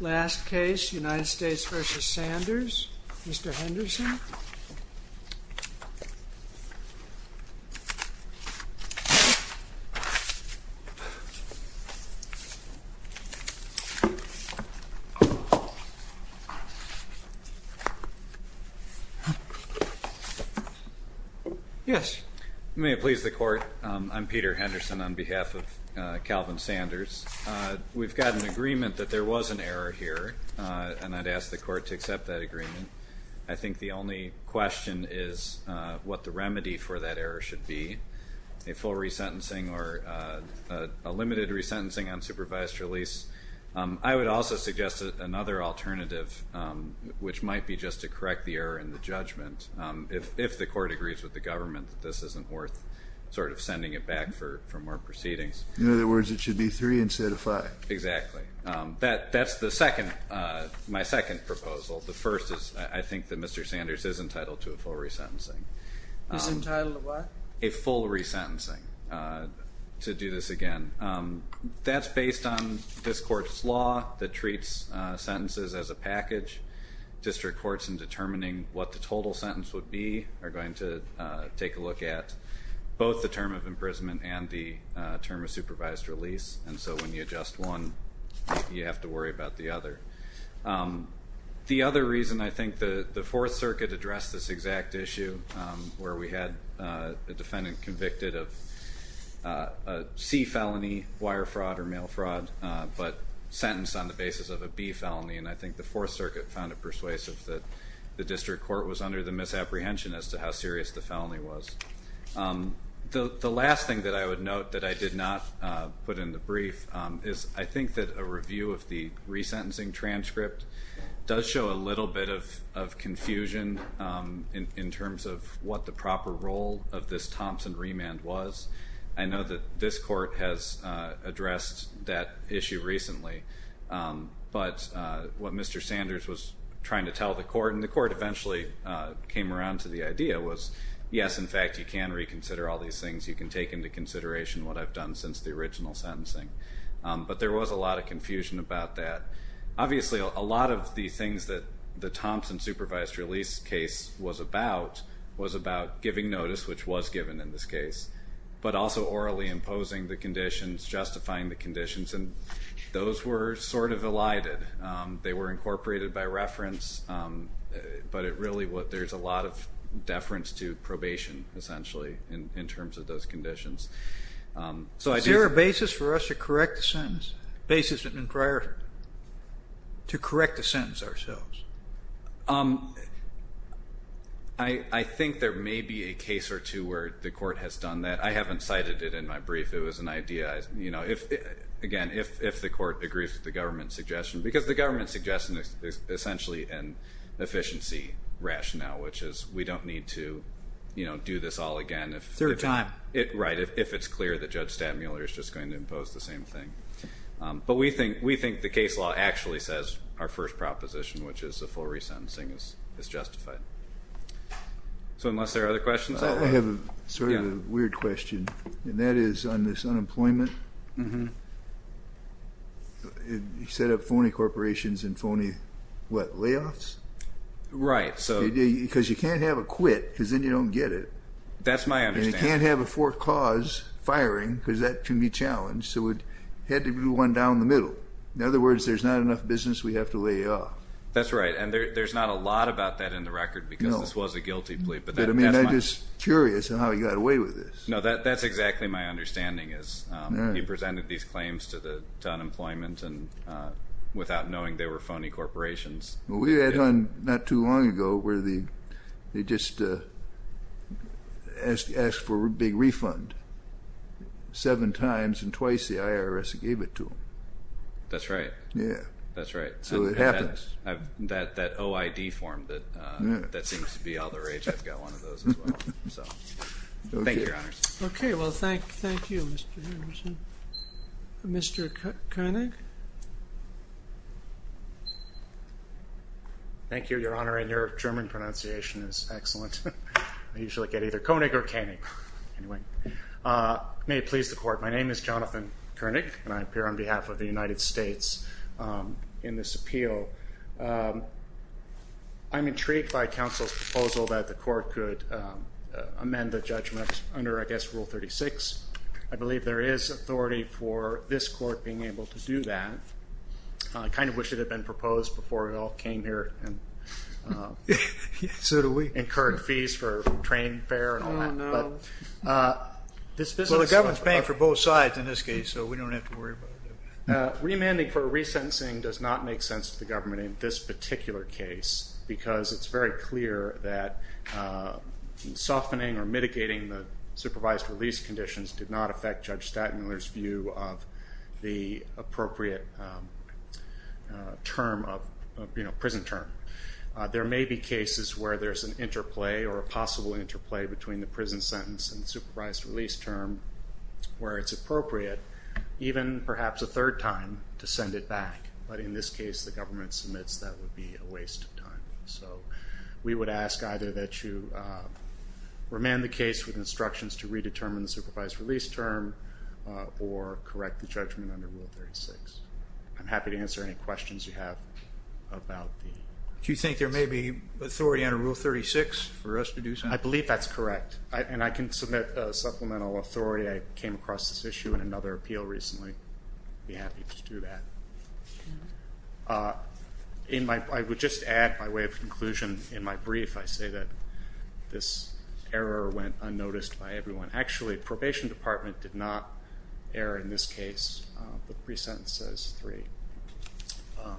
Last case, United States v. Sanders. Mr. Henderson. Yes. May it please the Court. I'm Peter Henderson on behalf of Calvin Sanders. We've got an agreement that there was an error here, and I'd ask the Court to accept that agreement. I think the only question is what the remedy for that error should be. A full resentencing or a limited resentencing on supervised release. I would also suggest another alternative, which might be just to correct the error in the judgment, if the Court agrees with the government that this isn't worth sort of sending it back for more proceedings. In other words, it should be three instead of five. Exactly. That's my second proposal. The first is I think that Mr. Sanders is entitled to a full resentencing. He's entitled to what? A full resentencing, to do this again. That's based on this Court's law that treats sentences as a package. District courts in determining what the total sentence would be are going to take a look at both the term of imprisonment and the term of supervised release. And so when you adjust one, you have to worry about the other. The other reason I think the Fourth Circuit addressed this exact issue, where we had a defendant convicted of a C felony, wire fraud or mail fraud, but sentenced on the basis of a B felony. And I think the Fourth Circuit found it persuasive that the district court was under the misapprehension as to how serious the felony was. The last thing that I would note that I did not put in the brief is I think that a review of the resentencing transcript does show a little bit of confusion in terms of what the proper role of this Thompson remand was. I know that this Court has addressed that issue recently. But what Mr. Sanders was trying to tell the Court, and the Court eventually came around to the idea, was yes, in fact, you can reconsider all these things. You can take into consideration what I've done since the original sentencing. But there was a lot of confusion about that. Obviously, a lot of the things that the Thompson supervised release case was about was about giving notice, which was given in this case, but also orally imposing the conditions, justifying the conditions. And those were sort of elided. They were incorporated by reference. But really, there's a lot of deference to probation, essentially, in terms of those conditions. Is there a basis for us to correct the sentence? A basis to correct the sentence ourselves? I think there may be a case or two where the Court has done that. I haven't cited it in my brief. It was an idea. Again, if the Court agrees with the government's suggestion, because the government's suggestion is essentially an efficiency rationale, which is we don't need to do this all again if it's clear that Judge Stadmuller is just going to impose the same thing. But we think the case law actually says our first proposition, which is a full resentencing, is justified. So unless there are other questions? I have sort of a weird question, and that is on this unemployment. Mm-hmm. You set up phony corporations and phony, what, layoffs? Right. Because you can't have a quit, because then you don't get it. That's my understanding. And you can't have a fourth cause firing, because that can be challenged. So it had to be one down the middle. In other words, there's not enough business we have to lay off. That's right. And there's not a lot about that in the record, because this was a guilty plea. But I'm just curious on how you got away with this. No, that's exactly my understanding, is he presented these claims to unemployment without knowing they were phony corporations. Well, we had one not too long ago where they just asked for a big refund seven times, and twice the IRS gave it to them. That's right. Yeah. That's right. So it happened. That OID form, that seems to be all the rage. I've got one of those as well. Thank you, Your Honors. Okay. Well, thank you, Mr. Henderson. Mr. Koenig. Thank you, Your Honor. And your German pronunciation is excellent. I usually get either Koenig or Koenig. Anyway. May it please the Court. My name is Jonathan Koenig, and I appear on behalf of the United States in this appeal. I'm intrigued by counsel's proposal that the Court could amend the judgment under, I guess, Rule 36. I believe there is authority for this Court being able to do that. I kind of wish it had been proposed before we all came here and incurred fees for train fare and all that. Well, the government's paying for both sides in this case, so we don't have to worry about it. Remanding for resentencing does not make sense to the government in this particular case because it's very clear that softening or mitigating the supervised release conditions did not affect Judge Stadtmuller's view of the appropriate term of, you know, prison term. There may be cases where there's an interplay or a possible interplay between the prison sentence and supervised release term where it's appropriate, even perhaps a third time, to send it back. But in this case, the government submits that would be a waste of time. So we would ask either that you remand the case with instructions to redetermine the supervised release term or correct the judgment under Rule 36. I'm happy to answer any questions you have about the... Do you think there may be authority under Rule 36 for us to do something? I believe that's correct. And I can submit supplemental authority. I came across this issue in another appeal recently. I'd be happy to do that. I would just add my way of conclusion in my brief. I say that this error went unnoticed by everyone. Actually, probation department did not err in this case. The pre-sentence says three.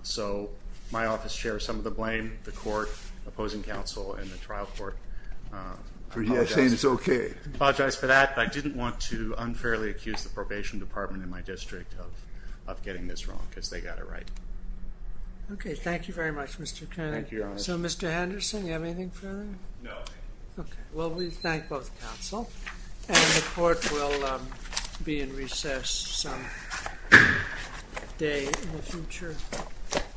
So my office shares some of the blame, the court, opposing counsel, and the trial court. So you're saying it's okay? I apologize for that. I didn't want to unfairly accuse the probation department in my district of getting this wrong because they got it right. Okay. Thank you very much, Mr. Kennedy. So, Mr. Henderson, do you have anything further? No. Okay. Well, we thank both counsel. And the court will be in recess some day in the future. Thank you. Thank you.